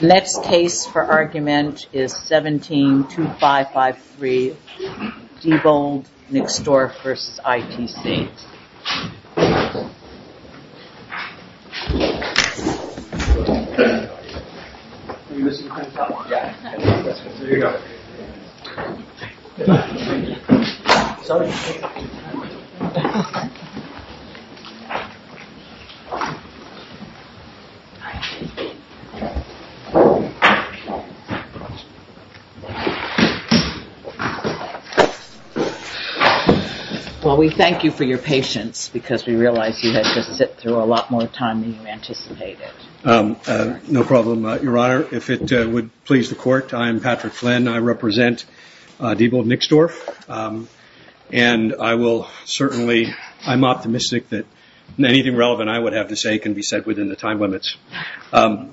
Next case for argument is 17-2553, Diebold Nixdorf v. ITC. Thank you for your patience. We realize you had to sit through a lot more time than you anticipated. No problem, Your Honor. If it would please the Court, I am Patrick Flynn. I represent Diebold Nixdorf. I'm optimistic that anything relevant I would have to say can be said within the time limits. I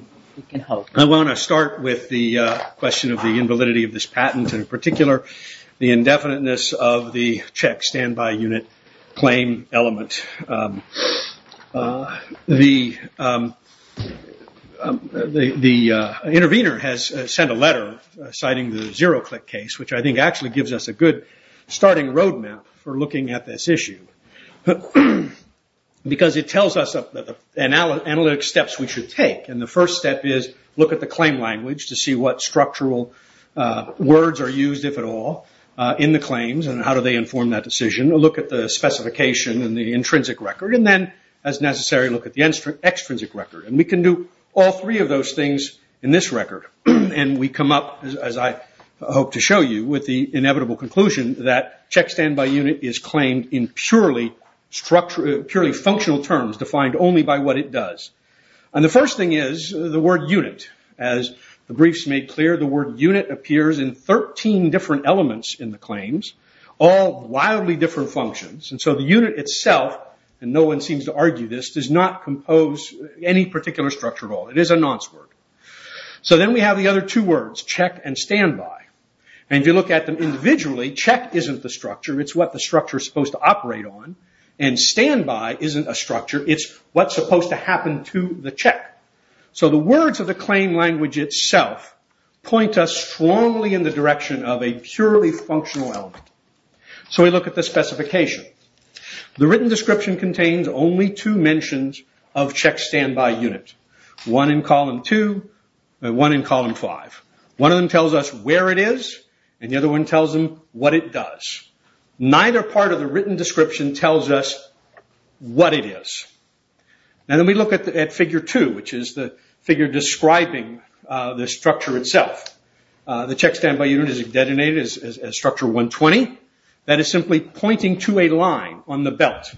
want to start with the question of the invalidity of this patent and, in particular, the indefiniteness of the check standby unit claim element. The intervener has sent a letter citing the zero-click case, which I think actually gives us a good starting road map for looking at this issue. It tells us the analytic steps we should take. The first step is look at the claim language to see what structural words are used, if at all, in the claims and how do they inform that decision. Look at the specification and the intrinsic record. Then, as necessary, look at the extrinsic record. We can do all three of those things in this record. We come up, as I hope to show you, with the inevitable conclusion that check standby unit is claimed in purely functional terms defined only by what it does. The first thing is the word unit. As the briefs made clear, the word unit appears in 13 different elements in the claims, all wildly different functions. The unit itself, and no one seems to argue this, does not compose any particular structure at all. It is a nonce word. Then we have the other two words, check and standby. If you look at them individually, check isn't the structure. It's what the structure is supposed to operate on. Standby isn't a structure. It's what's supposed to happen to the check. The words of the claim language itself point us strongly in the direction of a purely functional element. We look at the specification. The written description contains only two mentions of check standby unit. One in column two and one in column five. One of them tells us where it is and the other one tells them what it does. Neither part of the written description tells us what it is. Then we look at figure two, which is the figure describing the structure itself. The check standby unit is designated as structure 120. That is simply pointing to a line on the belt.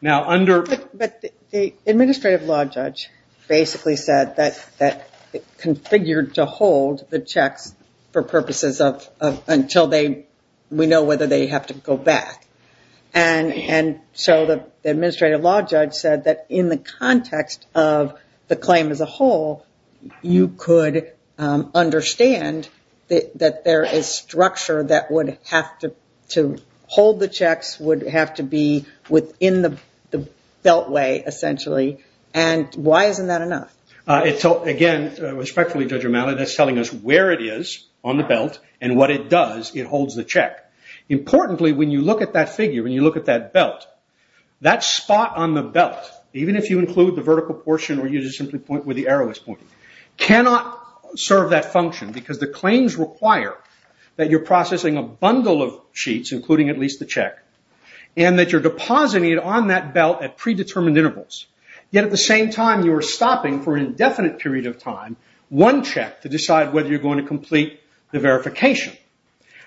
The administrative law judge basically said that it configured to hold the checks for purposes of until we know whether they have to go back. The administrative law judge said that in the context of the claim as a whole, you could understand that there is structure that would have to hold the checks, would have to be within the beltway, essentially. Why isn't that enough? Again, respectfully, Judge O'Malley, that's telling us where it is on the belt and what it does. It holds the check. Importantly, when you look at that figure, when you look at that belt, that spot on the belt, even if you include the vertical portion or you just simply point where the arrow is pointing, cannot serve that function because the claims require that you're processing a bundle of sheets, including at least the check, and that you're depositing it on that belt at predetermined intervals. Yet at the same time, you are stopping for an indefinite period of time, one check to decide whether you're going to complete the verification.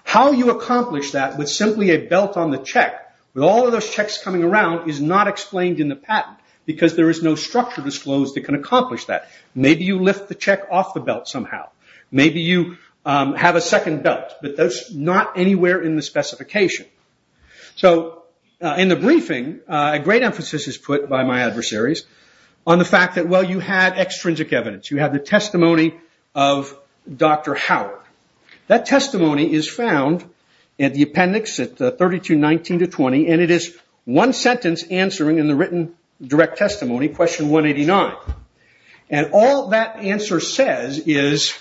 How you accomplish that with simply a belt on the check, with all of those checks coming around, is not explained in the patent because there is no structure disclosed that can accomplish that. Maybe you lift the check off the belt somehow. Maybe you have a second belt, but that's not anywhere in the specification. In the briefing, a great emphasis is put by my adversaries on the fact that, well, you had extrinsic evidence. You had the testimony of Dr. Howard. That testimony is found at the appendix at 3219-20, and it is one sentence answering in the written direct testimony, question 189. All that answer says is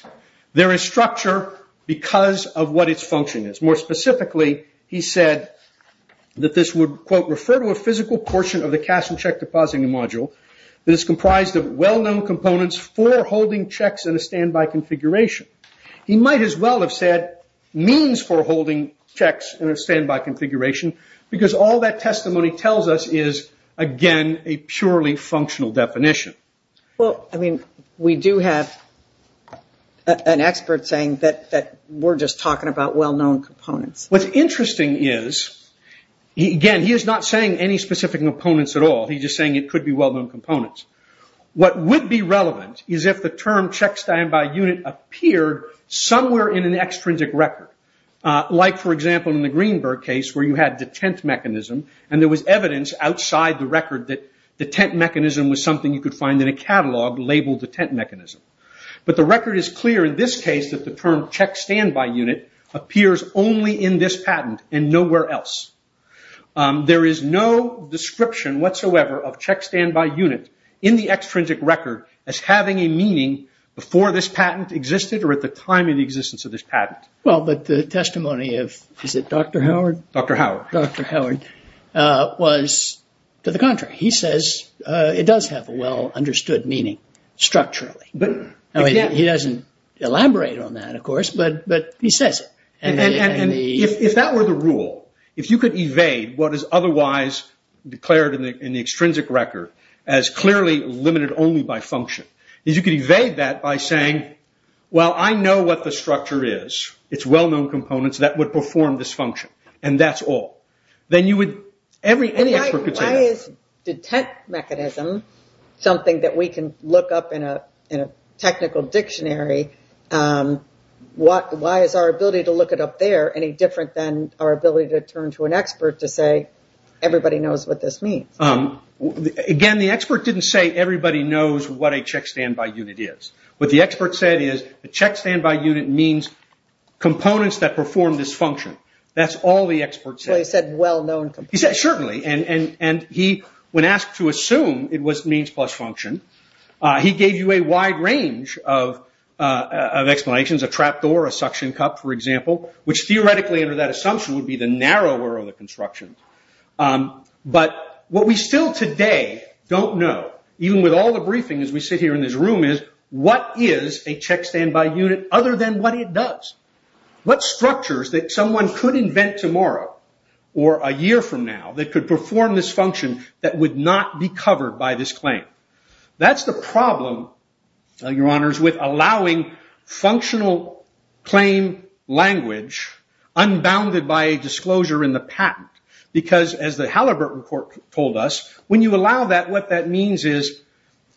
there is structure because of what its function is. More specifically, he said that this would, quote, refer to a physical portion of the cash and check depositing module that is comprised of well-known components for holding checks in a standby configuration. He might as well have said means for holding checks in a standby configuration because all that testimony tells us is, again, a purely functional definition. Well, I mean, we do have an expert saying that we're just talking about well-known components. What's interesting is, again, he is not saying any specific components at all. He's just saying it could be well-known components. What would be relevant is if the term check standby unit appeared somewhere in an extrinsic record, like, for example, in the Greenberg case where you had detent mechanism, and there was evidence outside the record that detent mechanism was something you could find in a catalog labeled detent mechanism. But the record is clear in this case that the term check standby unit appears only in this patent and nowhere else. There is no description whatsoever of check standby unit in the extrinsic record as having a meaning before this patent existed or at the time of the existence of this patent. Well, but the testimony of, is it Dr. Howard? Dr. Howard. Dr. Howard was to the contrary. He says it does have a well-understood meaning structurally. He doesn't elaborate on that, of course, but he says it. If that were the rule, if you could evade what is otherwise declared in the extrinsic record as clearly limited only by function, is you could evade that by saying, well, I know what the structure is. It's well-known components that would perform this function, and that's all. Then you would, any expert could say that. Why is detent mechanism something that we can look up in a technical dictionary? Why is our ability to look it up there any different than our ability to turn to an expert to say, everybody knows what this means? Again, the expert didn't say everybody knows what a check standby unit is. What the expert said is the check standby unit means components that perform this function. That's all the expert said. So he said well-known components. He said certainly, and he, when asked to assume it was means plus function, he gave you a wide range of explanations, a trap door, a suction cup, for example, which theoretically under that assumption would be the narrower of the construction. But what we still today don't know, even with all the briefing as we sit here in this room, is what is a check standby unit other than what it does? What structures that someone could invent tomorrow or a year from now that could perform this function that would not be covered by this claim? That's the problem, Your Honors, with allowing functional claim language unbounded by disclosure in the patent. Because as the Halliburton report told us, when you allow that, what that means is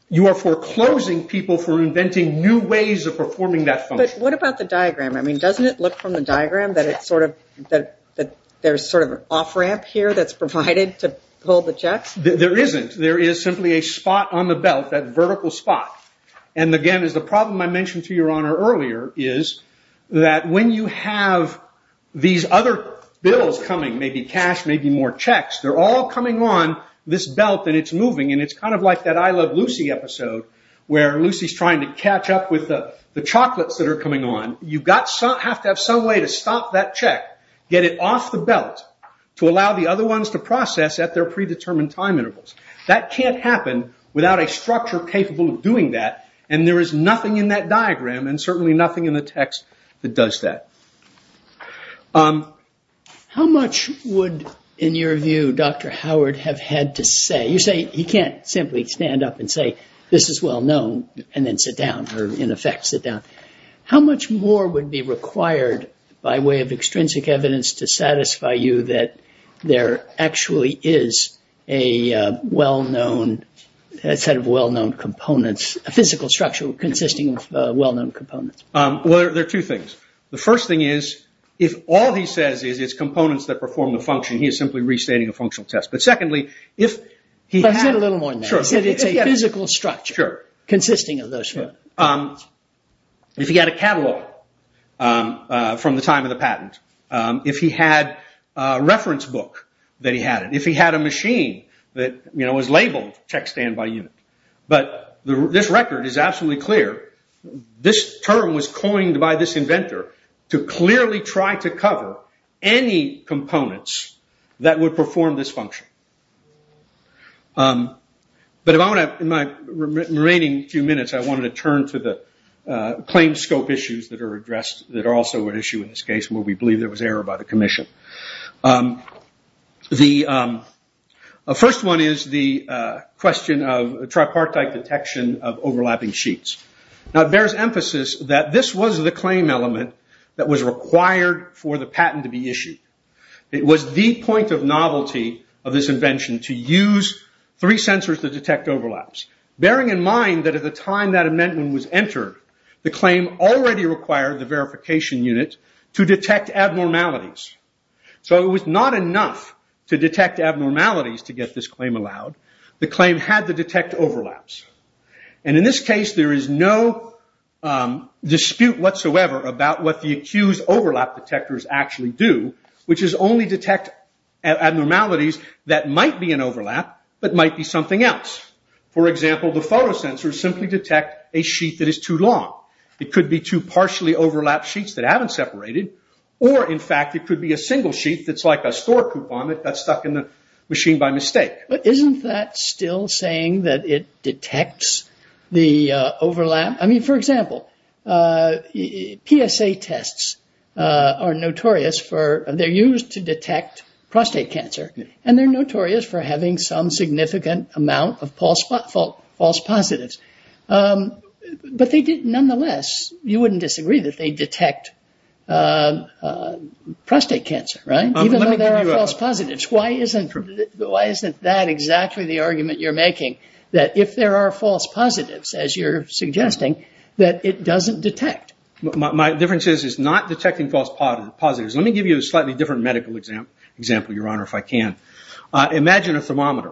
you are foreclosing people for inventing new ways of performing that function. But what about the diagram? Doesn't it look from the diagram that there's sort of an off-ramp here that's provided to pull the checks? There isn't. There is simply a spot on the belt, that vertical spot. And again, the problem I mentioned to Your Honor earlier is that when you have these other bills coming, maybe cash, maybe more checks, they're all coming on this belt and it's moving. And it's kind of like that I Love Lucy episode where Lucy's trying to catch up with the chocolates that are coming on. You have to have some way to stop that check, get it off the belt, to allow the other ones to process at their predetermined time intervals. That can't happen without a structure capable of doing that. And there is nothing in that diagram and certainly nothing in the text that does that. How much would, in your view, Dr. Howard have had to say? You say he can't simply stand up and say, this is well known, and then sit down, or in effect sit down. How much more would be required, by way of extrinsic evidence, to satisfy you that there actually is a well-known set of well-known components, a physical structure consisting of well-known components? Well, there are two things. The first thing is, if all he says is it's components that perform the function, he is simply restating a functional test. But secondly, if he had... Let's get a little more in there. Sure. He said it's a physical structure... Sure. ...consisting of those. If he had a catalog from the time of the patent, if he had a reference book that he had, if he had a machine that was labeled checkstand by unit. But this record is absolutely clear. This term was coined by this inventor to clearly try to cover any components that would perform this function. In the remaining few minutes, I wanted to turn to the claim scope issues that are addressed, that are also an issue in this case, where we believe there was error by the commission. The first one is the question of tripartite detection of overlapping sheets. It bears emphasis that this was the claim element that was required for the patent to be issued. It was the point of novelty of this invention to use three sensors to detect overlaps, bearing in mind that at the time that amendment was entered, the claim already required the verification unit to detect abnormalities. So it was not enough to detect abnormalities to get this claim allowed. The claim had to detect overlaps. In this case, there is no dispute whatsoever about what the accused overlap detectors actually do, which is only detect abnormalities that might be an overlap, but might be something else. For example, the photo sensors simply detect a sheet that is too long. It could be two partially overlapped sheets that haven't separated, or in fact it could be a single sheet that's like a store coupon that got stuck in the machine by mistake. But isn't that still saying that it detects the overlap? I mean, for example, PSA tests are notorious for, they're used to detect prostate cancer, and they're notorious for having some significant amount of false positives. But they did nonetheless, you wouldn't disagree that they detect prostate cancer, right? Even though there are false positives. Why isn't that exactly the argument you're making? That if there are false positives, as you're suggesting, that it doesn't detect. My difference is it's not detecting false positives. Let me give you a slightly different medical example, Your Honor, if I can. Imagine a thermometer.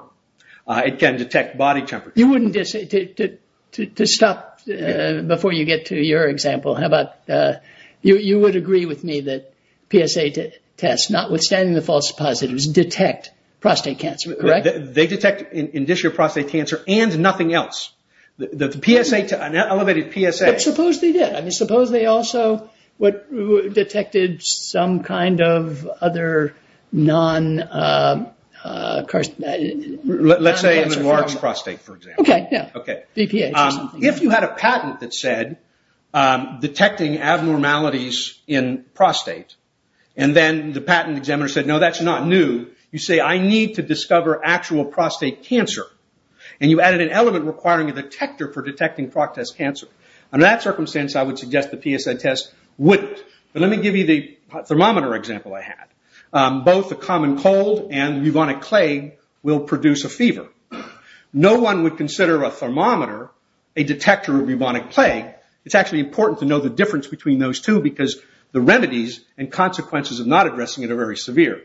It can detect body temperature. You wouldn't, to stop before you get to your example, how about, you would agree with me that PSA tests, notwithstanding the false positives, detect prostate cancer, correct? They detect indicial prostate cancer and nothing else. The PSA, an elevated PSA. But suppose they did. I mean, suppose they also detected some kind of other non-carcinogenic. Let's say, in the large prostate, for example. Okay, yeah. BPH or something. They did, detecting abnormalities in prostate. And then the patent examiner said, no, that's not new. You say, I need to discover actual prostate cancer. And you added an element requiring a detector for detecting prostate cancer. Under that circumstance, I would suggest the PSA test wouldn't. But let me give you the thermometer example I had. No one would consider a thermometer a detector of bubonic plague. It's actually important to know the difference between those two because the remedies and consequences of not addressing it are very severe.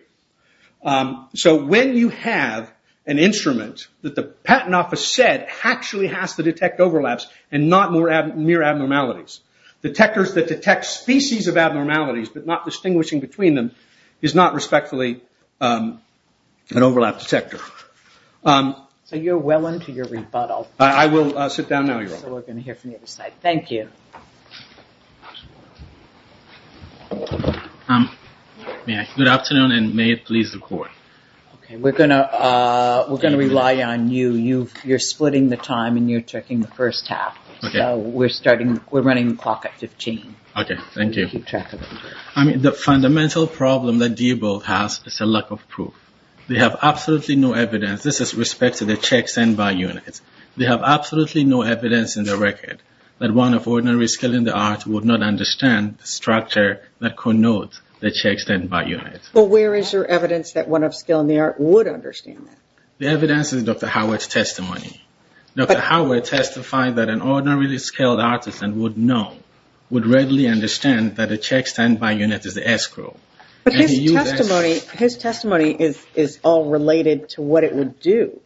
So when you have an instrument that the patent office said actually has to detect overlaps and not mere abnormalities, detectors that detect species of abnormalities but not distinguishing between them is not respectfully an overlap detector. So you're well into your rebuttal. I will sit down now, Your Honor. So we're going to hear from the other side. Thank you. Good afternoon and may it please the court. We're going to rely on you. You're splitting the time and you're checking the first half. So we're running the clock at 15. Okay, thank you. I mean, the fundamental problem that Diebold has is a lack of proof. They have absolutely no evidence. This is with respect to the checks sent by units. They have absolutely no evidence in their record that one of ordinary skill in the arts would not understand the structure that connotes the checks sent by units. But where is your evidence that one of skill in the arts would understand that? The evidence is Dr. Howard's testimony. Dr. Howard testified that an ordinary skilled artist and would know, would readily understand that a check sent by units is the escrow. But his testimony is all related to what it would do.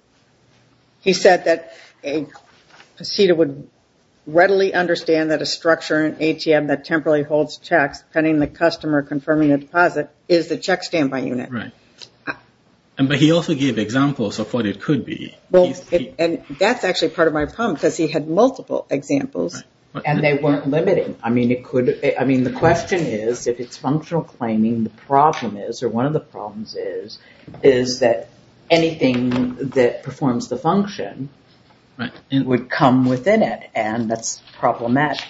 He said that a procedure would readily understand that a structure in an ATM that temporarily holds checks pending the customer confirming the deposit is the check sent by unit. Right. But he also gave examples of what it could be. And that's actually part of my problem because he had multiple examples. And they weren't limiting. I mean, it could, I mean, the question is if it's functional claiming, the problem is, or one of the problems is, is that anything that performs the function would come within it. And that's problematic.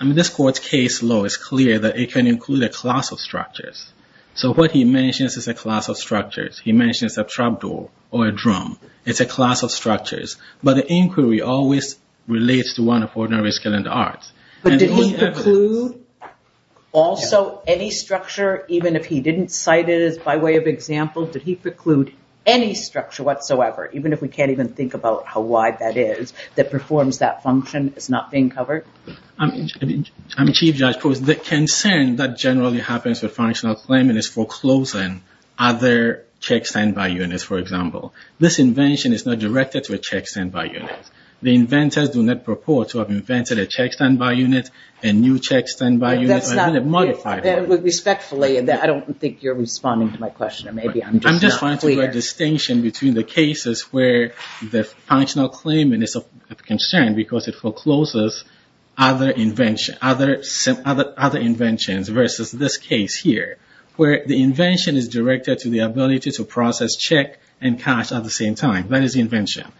This court's case law is clear that it can include a class of structures. So what he mentions is a class of structures. It's a class of structures. But the inquiry always relates to one of ordinary skilled arts. But did he preclude also any structure, even if he didn't cite it as by way of example, did he preclude any structure whatsoever, even if we can't even think about how wide that is, that performs that function as not being covered? I mean, Chief Judge, the concern that generally happens with functional claiming is foreclosing other checks sent by units, for example. This invention is not directed to a check sent by unit. The inventors do not purport to have invented a check sent by unit, a new check sent by unit, or even a modified one. Respectfully, I don't think you're responding to my question, or maybe I'm just not clear. I'm just trying to make a distinction between the cases where the functional claiming is of concern because it forecloses other inventions versus this case here, where the invention is directed to the ability to process check and cash at the same time. That is the invention.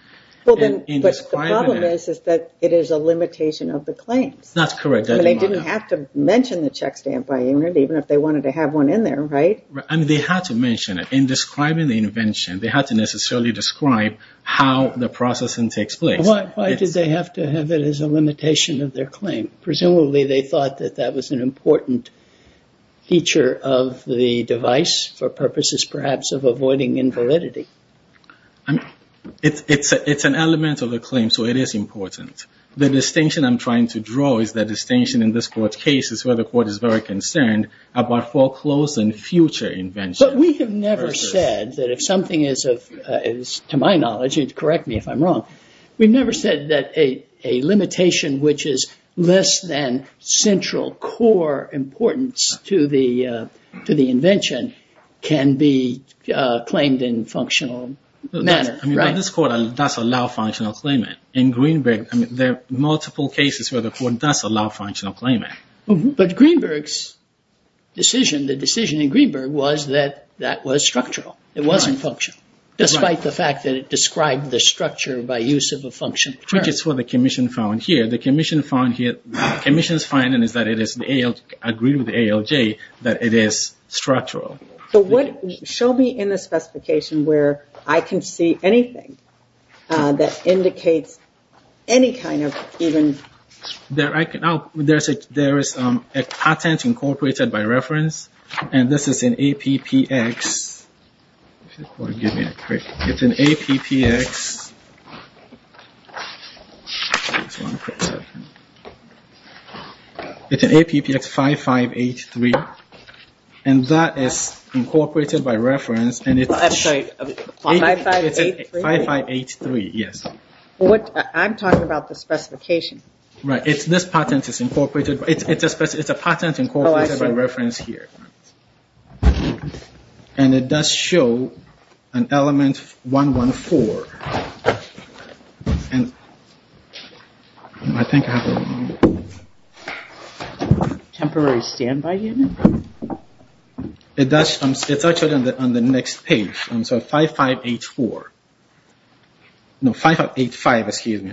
But the problem is that it is a limitation of the claims. That's correct. They didn't have to mention the check sent by unit, even if they wanted to have one in there, right? They had to mention it. In describing the invention, they had to necessarily describe how the processing takes place. Why did they have to have it as a limitation of their claim? Presumably they thought that that was an important feature of the device for purposes, perhaps, of avoiding invalidity. It's an element of the claim, so it is important. The distinction I'm trying to draw is the distinction in this court's case is where the court is very concerned about foreclosing future inventions. But we have never said that if something is, to my knowledge, and correct me if I'm wrong, we've never said that a limitation which is less than central, core importance to the invention can be claimed in a functional manner. This court does allow functional claimant. In Greenberg, there are multiple cases where the court does allow functional claimant. But Greenberg's decision, the decision in Greenberg, was that that was structural. It wasn't functional, despite the fact that it described the structure by use of a functional term. Which is what the commission found here. The commission's finding is that it is, agreed with ALJ, that it is structural. Show me in the specification where I can see anything that indicates any kind of even... There is a patent incorporated by reference, and this is in APPX... It's in APPX 5583, and that is incorporated by reference. I'm sorry, 5583? 5583, yes. I'm talking about the specification. Right, this patent is incorporated, it's a patent incorporated by reference here. And it does show an element 114. Temporary standby unit? It's actually on the next page, 5584. No, 5585, excuse me.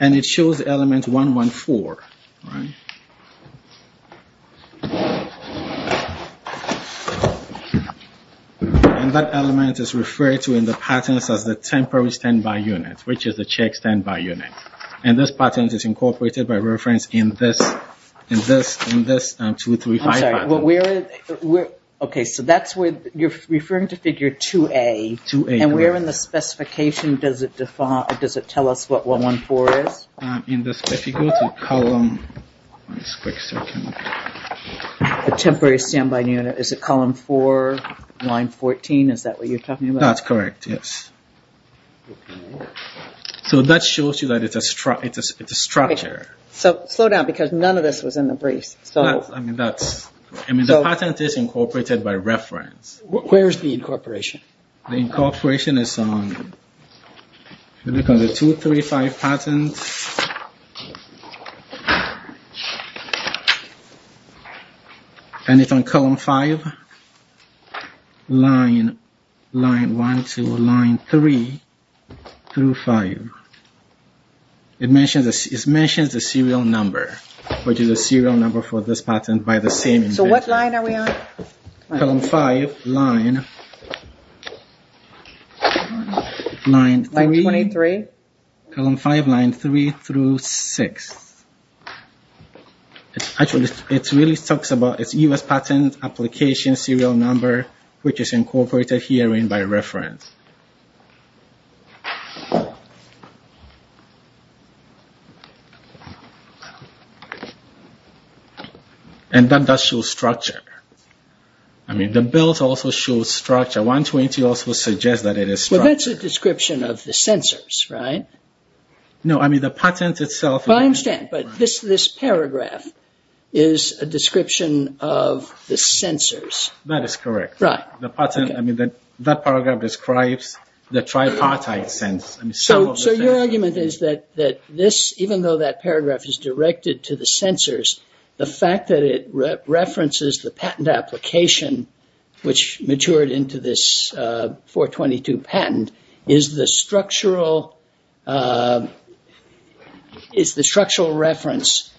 And it shows element 114. And that element is referred to in the patents as the temporary standby unit, which is the check standby unit. And this patent is incorporated by reference in this 235 patent. Okay, so that's where you're referring to figure 2A, And where in the specification does it tell us what 114 is? If you go to column... The temporary standby unit, is it column 4, line 14? Is that what you're talking about? That's correct, yes. So that shows you that it's a structure. So slow down, because none of this was in the briefs. I mean, the patent is incorporated by reference. Where's the incorporation? The incorporation is on... If you look on the 235 patent, and it's on column 5, line 1, 2, line 3, through 5. It mentions the serial number, which is the serial number for this patent by the same inventor. So what line are we on? Column 5, line... Line 23? Column 5, line 3, through 6. Actually, it really talks about its U.S. patent application serial number, which is incorporated here by reference. And that does show structure. I mean, the bills also show structure. 120 also suggests that it is structure. Well, that's a description of the sensors, right? No, I mean, the patent itself... I understand, but this paragraph is a description of the sensors. That is correct. That paragraph describes the sensors. It describes the tripartite sense. So your argument is that this, even though that paragraph is directed to the sensors, the fact that it references the patent application, which matured into this 422 patent, is the structural reference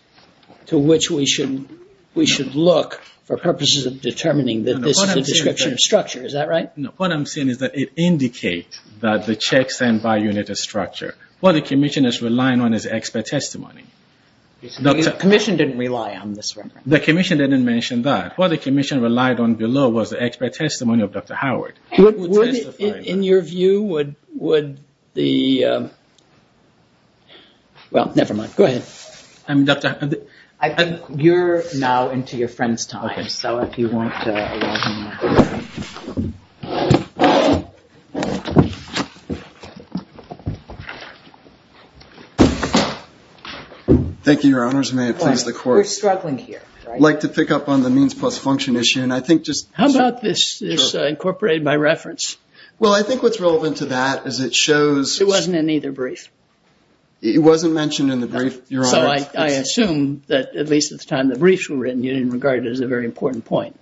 to which we should look for purposes of determining the description of structure. Is that right? What I'm saying is that it indicates that the checks and by-units are structure. What the Commission is relying on is expert testimony. The Commission didn't rely on this reference. The Commission didn't mention that. What the Commission relied on below was the expert testimony of Dr. Howard. In your view, would the... Well, never mind. Go ahead. You're now into your friend's time, so if you want to... Thank you, Your Honors. May it please the Court. We're struggling here. I'd like to pick up on the means plus function issue, and I think just... How about this incorporated by reference? Well, I think what's relevant to that is it shows... It wasn't in either brief. It wasn't mentioned in the brief, Your Honor. So I assume that, at least at the time the briefs were written, you didn't regard it as a very important point.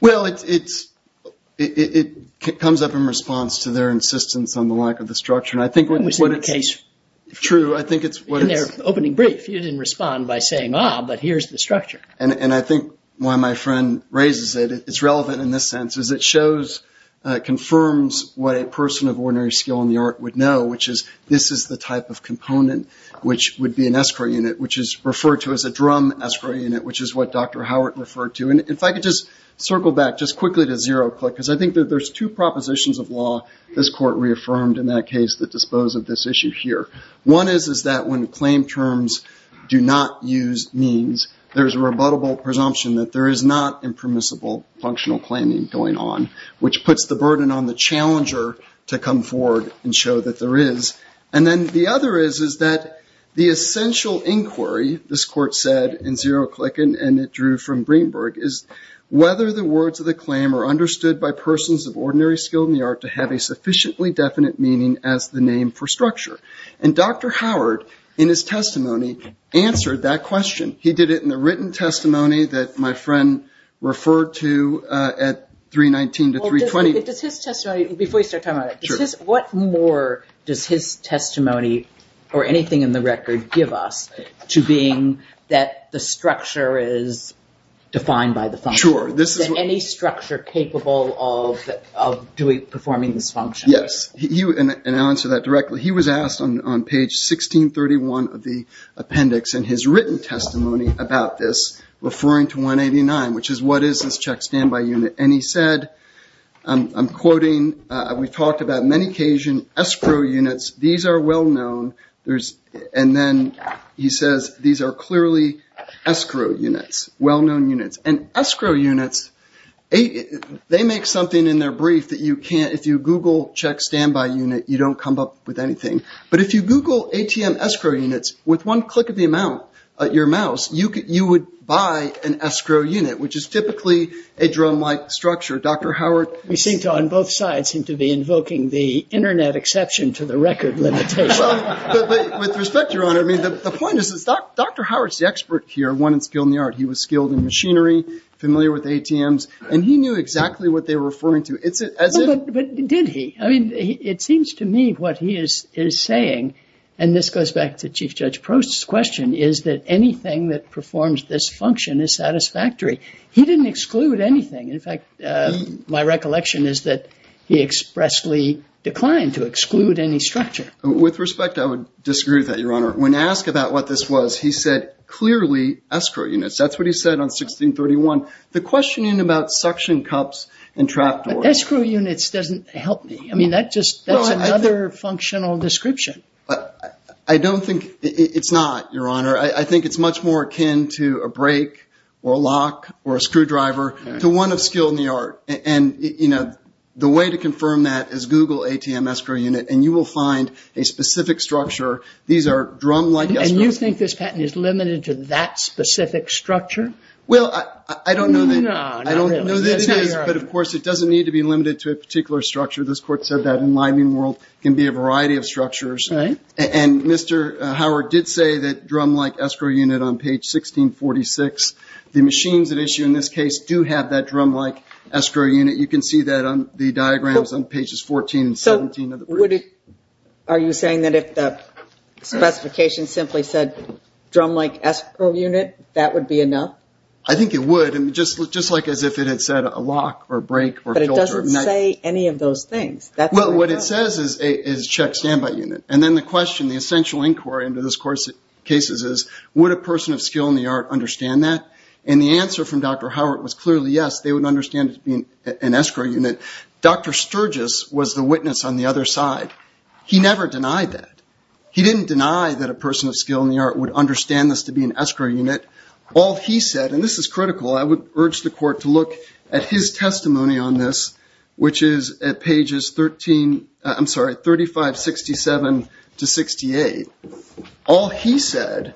Well, it comes up in response to their insistence on the lack of the structure, and I think what it's... When we say the case... True. I think it's what it's... In their opening brief, you didn't respond by saying, ah, but here's the structure. And I think why my friend raises it, it's relevant in this sense, is it shows, confirms what a person of ordinary skill in the art would know, which is this is the type of component which would be an escrow unit, which is referred to as a drum escrow unit, which is what Dr. Howard referred to. And if I could just circle back just quickly to Zeroclick, because I think that there's two propositions of law this Court reaffirmed in that case that dispose of this issue here. One is that when claim terms do not use means, there's a rebuttable presumption that there is not impermissible functional claiming going on, which puts the burden on the challenger to come forward and show that there is. And then the other is that the essential inquiry, this Court said in Zeroclick and it drew from Greenberg, is whether the words of the claim are understood by persons of ordinary skill in the art to have a sufficiently definite meaning as the name for structure. And Dr. Howard, in his testimony, answered that question. He did it in the written testimony that my friend referred to at 319 to 320. Does his testimony, before you start talking about it, what more does his testimony or anything in the record give us to being that the structure is defined by the function? Sure. Is there any structure capable of performing this function? Yes. And I'll answer that directly. He was asked on page 1631 of the appendix in his written testimony about this, referring to 189, which is, what is this check standby unit? And he said, I'm quoting, we've talked about many Cajun escrow units. These are well known. And then he says, these are clearly escrow units, well known units. And escrow units, they make something in their brief that you can't, if you Google check standby unit, you don't come up with anything. But if you Google ATM escrow units, with one click of the amount, your mouse, you would buy an escrow unit, which is typically a drum-like structure. Dr. Howard? We seem to, on both sides, seem to be invoking the internet exception to the record limitation. But with respect, Your Honor, I mean, the point is, Dr. Howard's the expert here, one in skill and the art. He was skilled in machinery, familiar with ATMs, and he knew exactly what they were referring to. It's as if... But did he? I mean, it seems to me what he is saying, and this goes back to Chief Judge Prost's question, is that anything that performs this function is satisfactory. He didn't exclude anything. In fact, my recollection is that he expressly declined to exclude any structure. With respect, I would disagree with that, Your Honor. When asked about what this was, he said, clearly, escrow units. That's what he said on 1631. The questioning about suction cups and trap doors... Escrow units doesn't help me. I mean, that's just another functional description. I don't think... It's not, Your Honor. I think it's much more akin to a brake or a lock or a screwdriver, to one of skill and the art. And, you know, the way to confirm that is Google ATM escrow unit, and you will find a specific structure. These are drum-like escrow... And you think this patent is limited to that specific structure? Well, I don't know that... No, not really. But, of course, it doesn't need to be limited to a particular structure. This Court said that in liming world, it can be a variety of structures. Right. And Mr. Howard did say that drum-like escrow unit on page 1646. The machines that issue in this case do have that drum-like escrow unit. You can see that on the diagrams on pages 14 and 17... So, would it... Are you saying that if the specification simply said drum-like escrow unit, that would be enough? I think it would, just like as if it had said a lock or a brake or a filter... But it doesn't say any of those things. Well, what it says is check standby unit. And then the question, the essential inquiry into this Court's cases is, would a person of skill in the art understand that? And the answer from Dr. Howard was clearly yes, they would understand it as being an escrow unit. Dr. Sturgis was the witness on the other side. He never denied that. He didn't deny that a person of skill in the art would understand this to be an escrow unit. All he said, and this is critical, I would urge the Court to look at his testimony on this, which is at pages 13... I'm sorry, 3567 to 68. All he said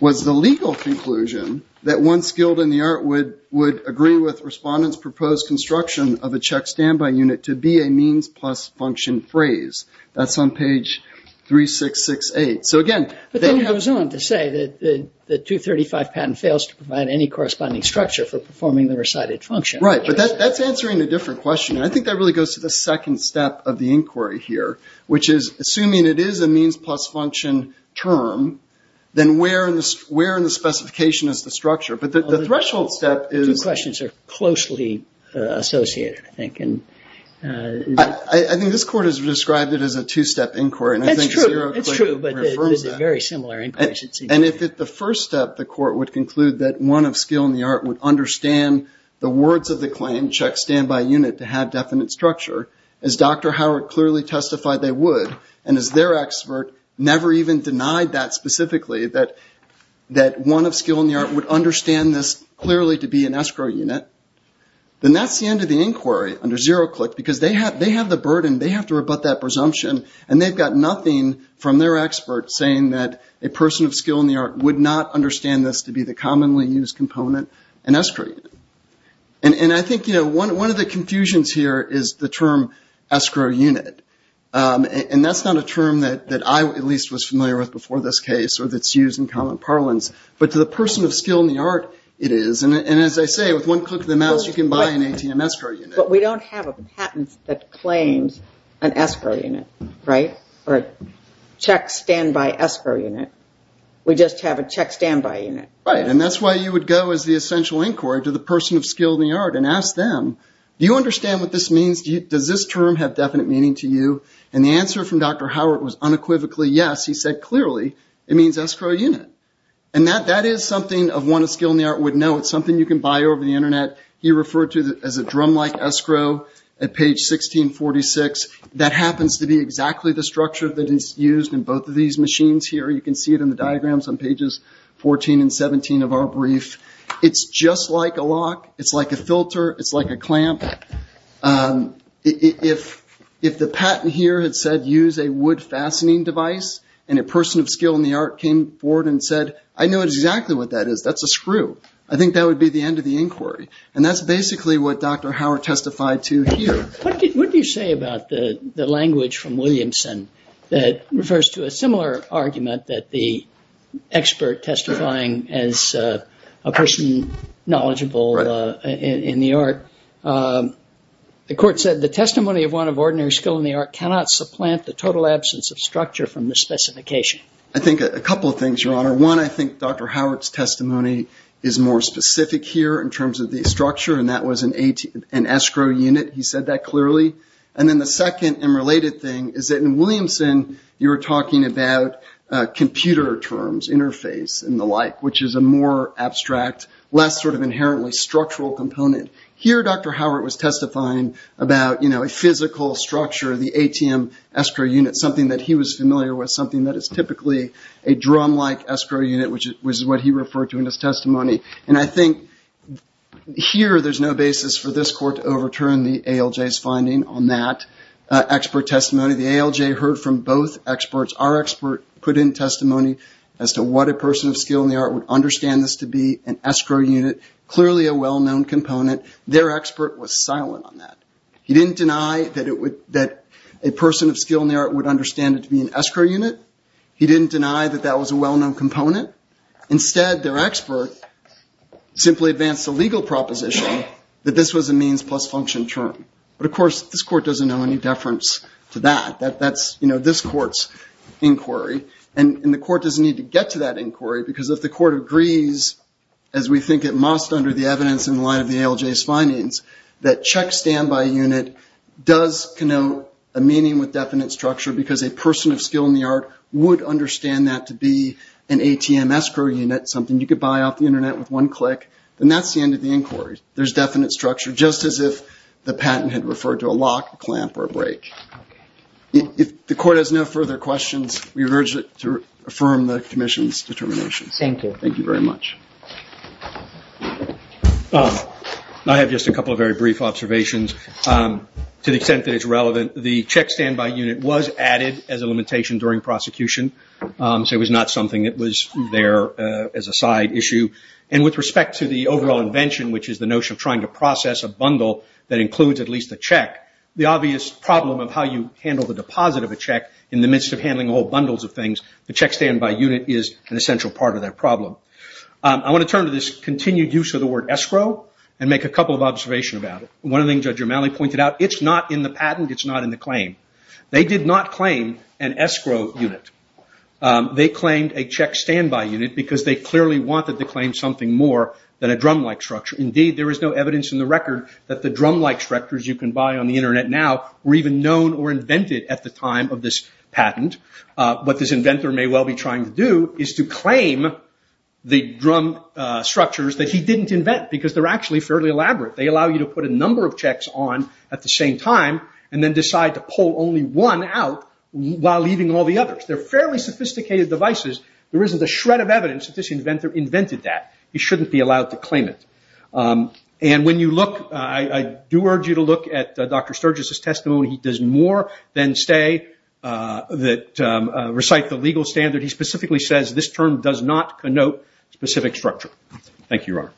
was the legal conclusion that one skilled in the art would agree with respondents' proposed construction of a check standby unit to be a means plus function phrase. That's on page 3668. So again... But then he goes on to say that the 235 patent fails to provide any corresponding structure for performing the recited function. Right, but that's answering a different question. And I think that really goes to the second step of the inquiry here, which is assuming it is a means plus function term, then where in the specification is the structure? But the threshold step is... Two questions are closely associated, I think. I think this Court has described it as a two-step inquiry. That's true, but there's a very similar inquiry. And if at the first step the Court would conclude that one of skill in the art would understand the words of the claim, check standby unit, to have definite structure, as Dr. Howard clearly testified they would, and as their expert never even denied that specifically, that one of skill in the art would understand this clearly to be an escrow unit, then that's the end of the inquiry under zero-click, because they have the burden, they have to rebut that presumption, and they've got nothing from their expert saying that a person of skill in the art would not understand this to be the commonly used component, an escrow unit. And I think one of the confusions here is the term escrow unit. And that's not a term that I at least was familiar with before this case or that's used in common parlance, but to the person of skill in the art it is. And as I say, with one click of the mouse you can buy an ATM escrow unit. But we don't have a patent that claims an escrow unit, right? Or a check standby escrow unit. We just have a check standby unit. Right, and that's why you would go as the essential inquiry to the person of skill in the art and ask them, do you understand what this means? Does this term have definite meaning to you? And the answer from Dr. Howard was unequivocally yes. He said clearly it means escrow unit. And that is something of one of skill in the art would know. It's something you can buy over the Internet. He referred to it as a drum-like escrow at page 1646. That happens to be exactly the structure that is used in both of these machines here. You can see it in the diagrams on pages 14 and 17 of our brief. It's just like a lock. It's like a filter. It's like a clamp. If the patent here had said use a wood fastening device and a person of skill in the art came forward and said, I know exactly what that is. That's a screw. I think that would be the end of the inquiry. And that's basically what Dr. Howard testified to here. What do you say about the language from Williamson that refers to a similar argument that the expert testifying as a person knowledgeable in the art, the court said the testimony of one of ordinary skill in the art cannot supplant the total absence of structure from the specification. I think a couple of things, Your Honor. One, I think Dr. Howard's testimony is more specific here in terms of the structure, and that was an escrow unit. He said that clearly. And then the second and related thing is that in Williamson, you were talking about computer terms, interface and the like, which is a more abstract, less sort of inherently structural component. Here Dr. Howard was testifying about, you know, a physical structure, the ATM escrow unit, something that he was familiar with, something that is typically a drum-like escrow unit, which is what he referred to in his testimony. And I think here there's no basis for this court to overturn the ALJ's finding on that expert testimony. The ALJ heard from both experts. Our expert put in testimony as to what a person of skill in the art would understand this to be, an escrow unit, clearly a well-known component. Their expert was silent on that. He didn't deny that a person of skill in the art would understand it to be an escrow unit. He didn't deny that that was a well-known component. Instead, their expert simply advanced a legal proposition that this was a means plus function term. But, of course, this court doesn't know any deference to that. That's, you know, this court's inquiry. And the court doesn't need to get to that inquiry because if the court agrees, as we think it must under the evidence in light of the ALJ's findings, that check standby unit does connote a meaning with definite structure because a person of skill in the art would understand that to be an ATM escrow unit, something you could buy off the Internet with one click, then that's the end of the inquiry. There's definite structure, just as if the patent had referred to a lock, a clamp, or a brake. If the court has no further questions, we urge it to affirm the commission's determination. Thank you. Thank you very much. I have just a couple of very brief observations. To the extent that it's relevant, the check standby unit was added as a limitation during prosecution, so it was not something that was there as a side issue. And with respect to the overall invention, which is the notion of trying to process a bundle that includes at least a check, the obvious problem of how you handle the deposit of a check in the midst of handling whole bundles of things, the check standby unit is an essential part of that problem. I want to turn to this continued use of the word escrow and make a couple of observations about it. One of the things Judge Romali pointed out, it's not in the patent, it's not in the claim. They did not claim an escrow unit. They claimed a check standby unit because they clearly wanted to claim something more than a drum-like structure. Indeed, there is no evidence in the record that the drum-like structures you can buy on the Internet now were even known or invented at the time of this patent. What this inventor may well be trying to do is to claim the drum structures that he didn't invent, because they're actually fairly elaborate. They allow you to put a number of checks on at the same time and then decide to pull only one out while leaving all the others. They're fairly sophisticated devices. There isn't a shred of evidence that this inventor invented that. He shouldn't be allowed to claim it. And when you look, I do urge you to look at Dr. Sturgis' testimony. He does more than recite the legal standard. Thank you, Your Honor.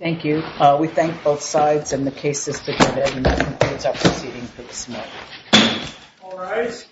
Thank you. We thank both sides and the cases together. And that concludes our proceeding for this morning. All rise.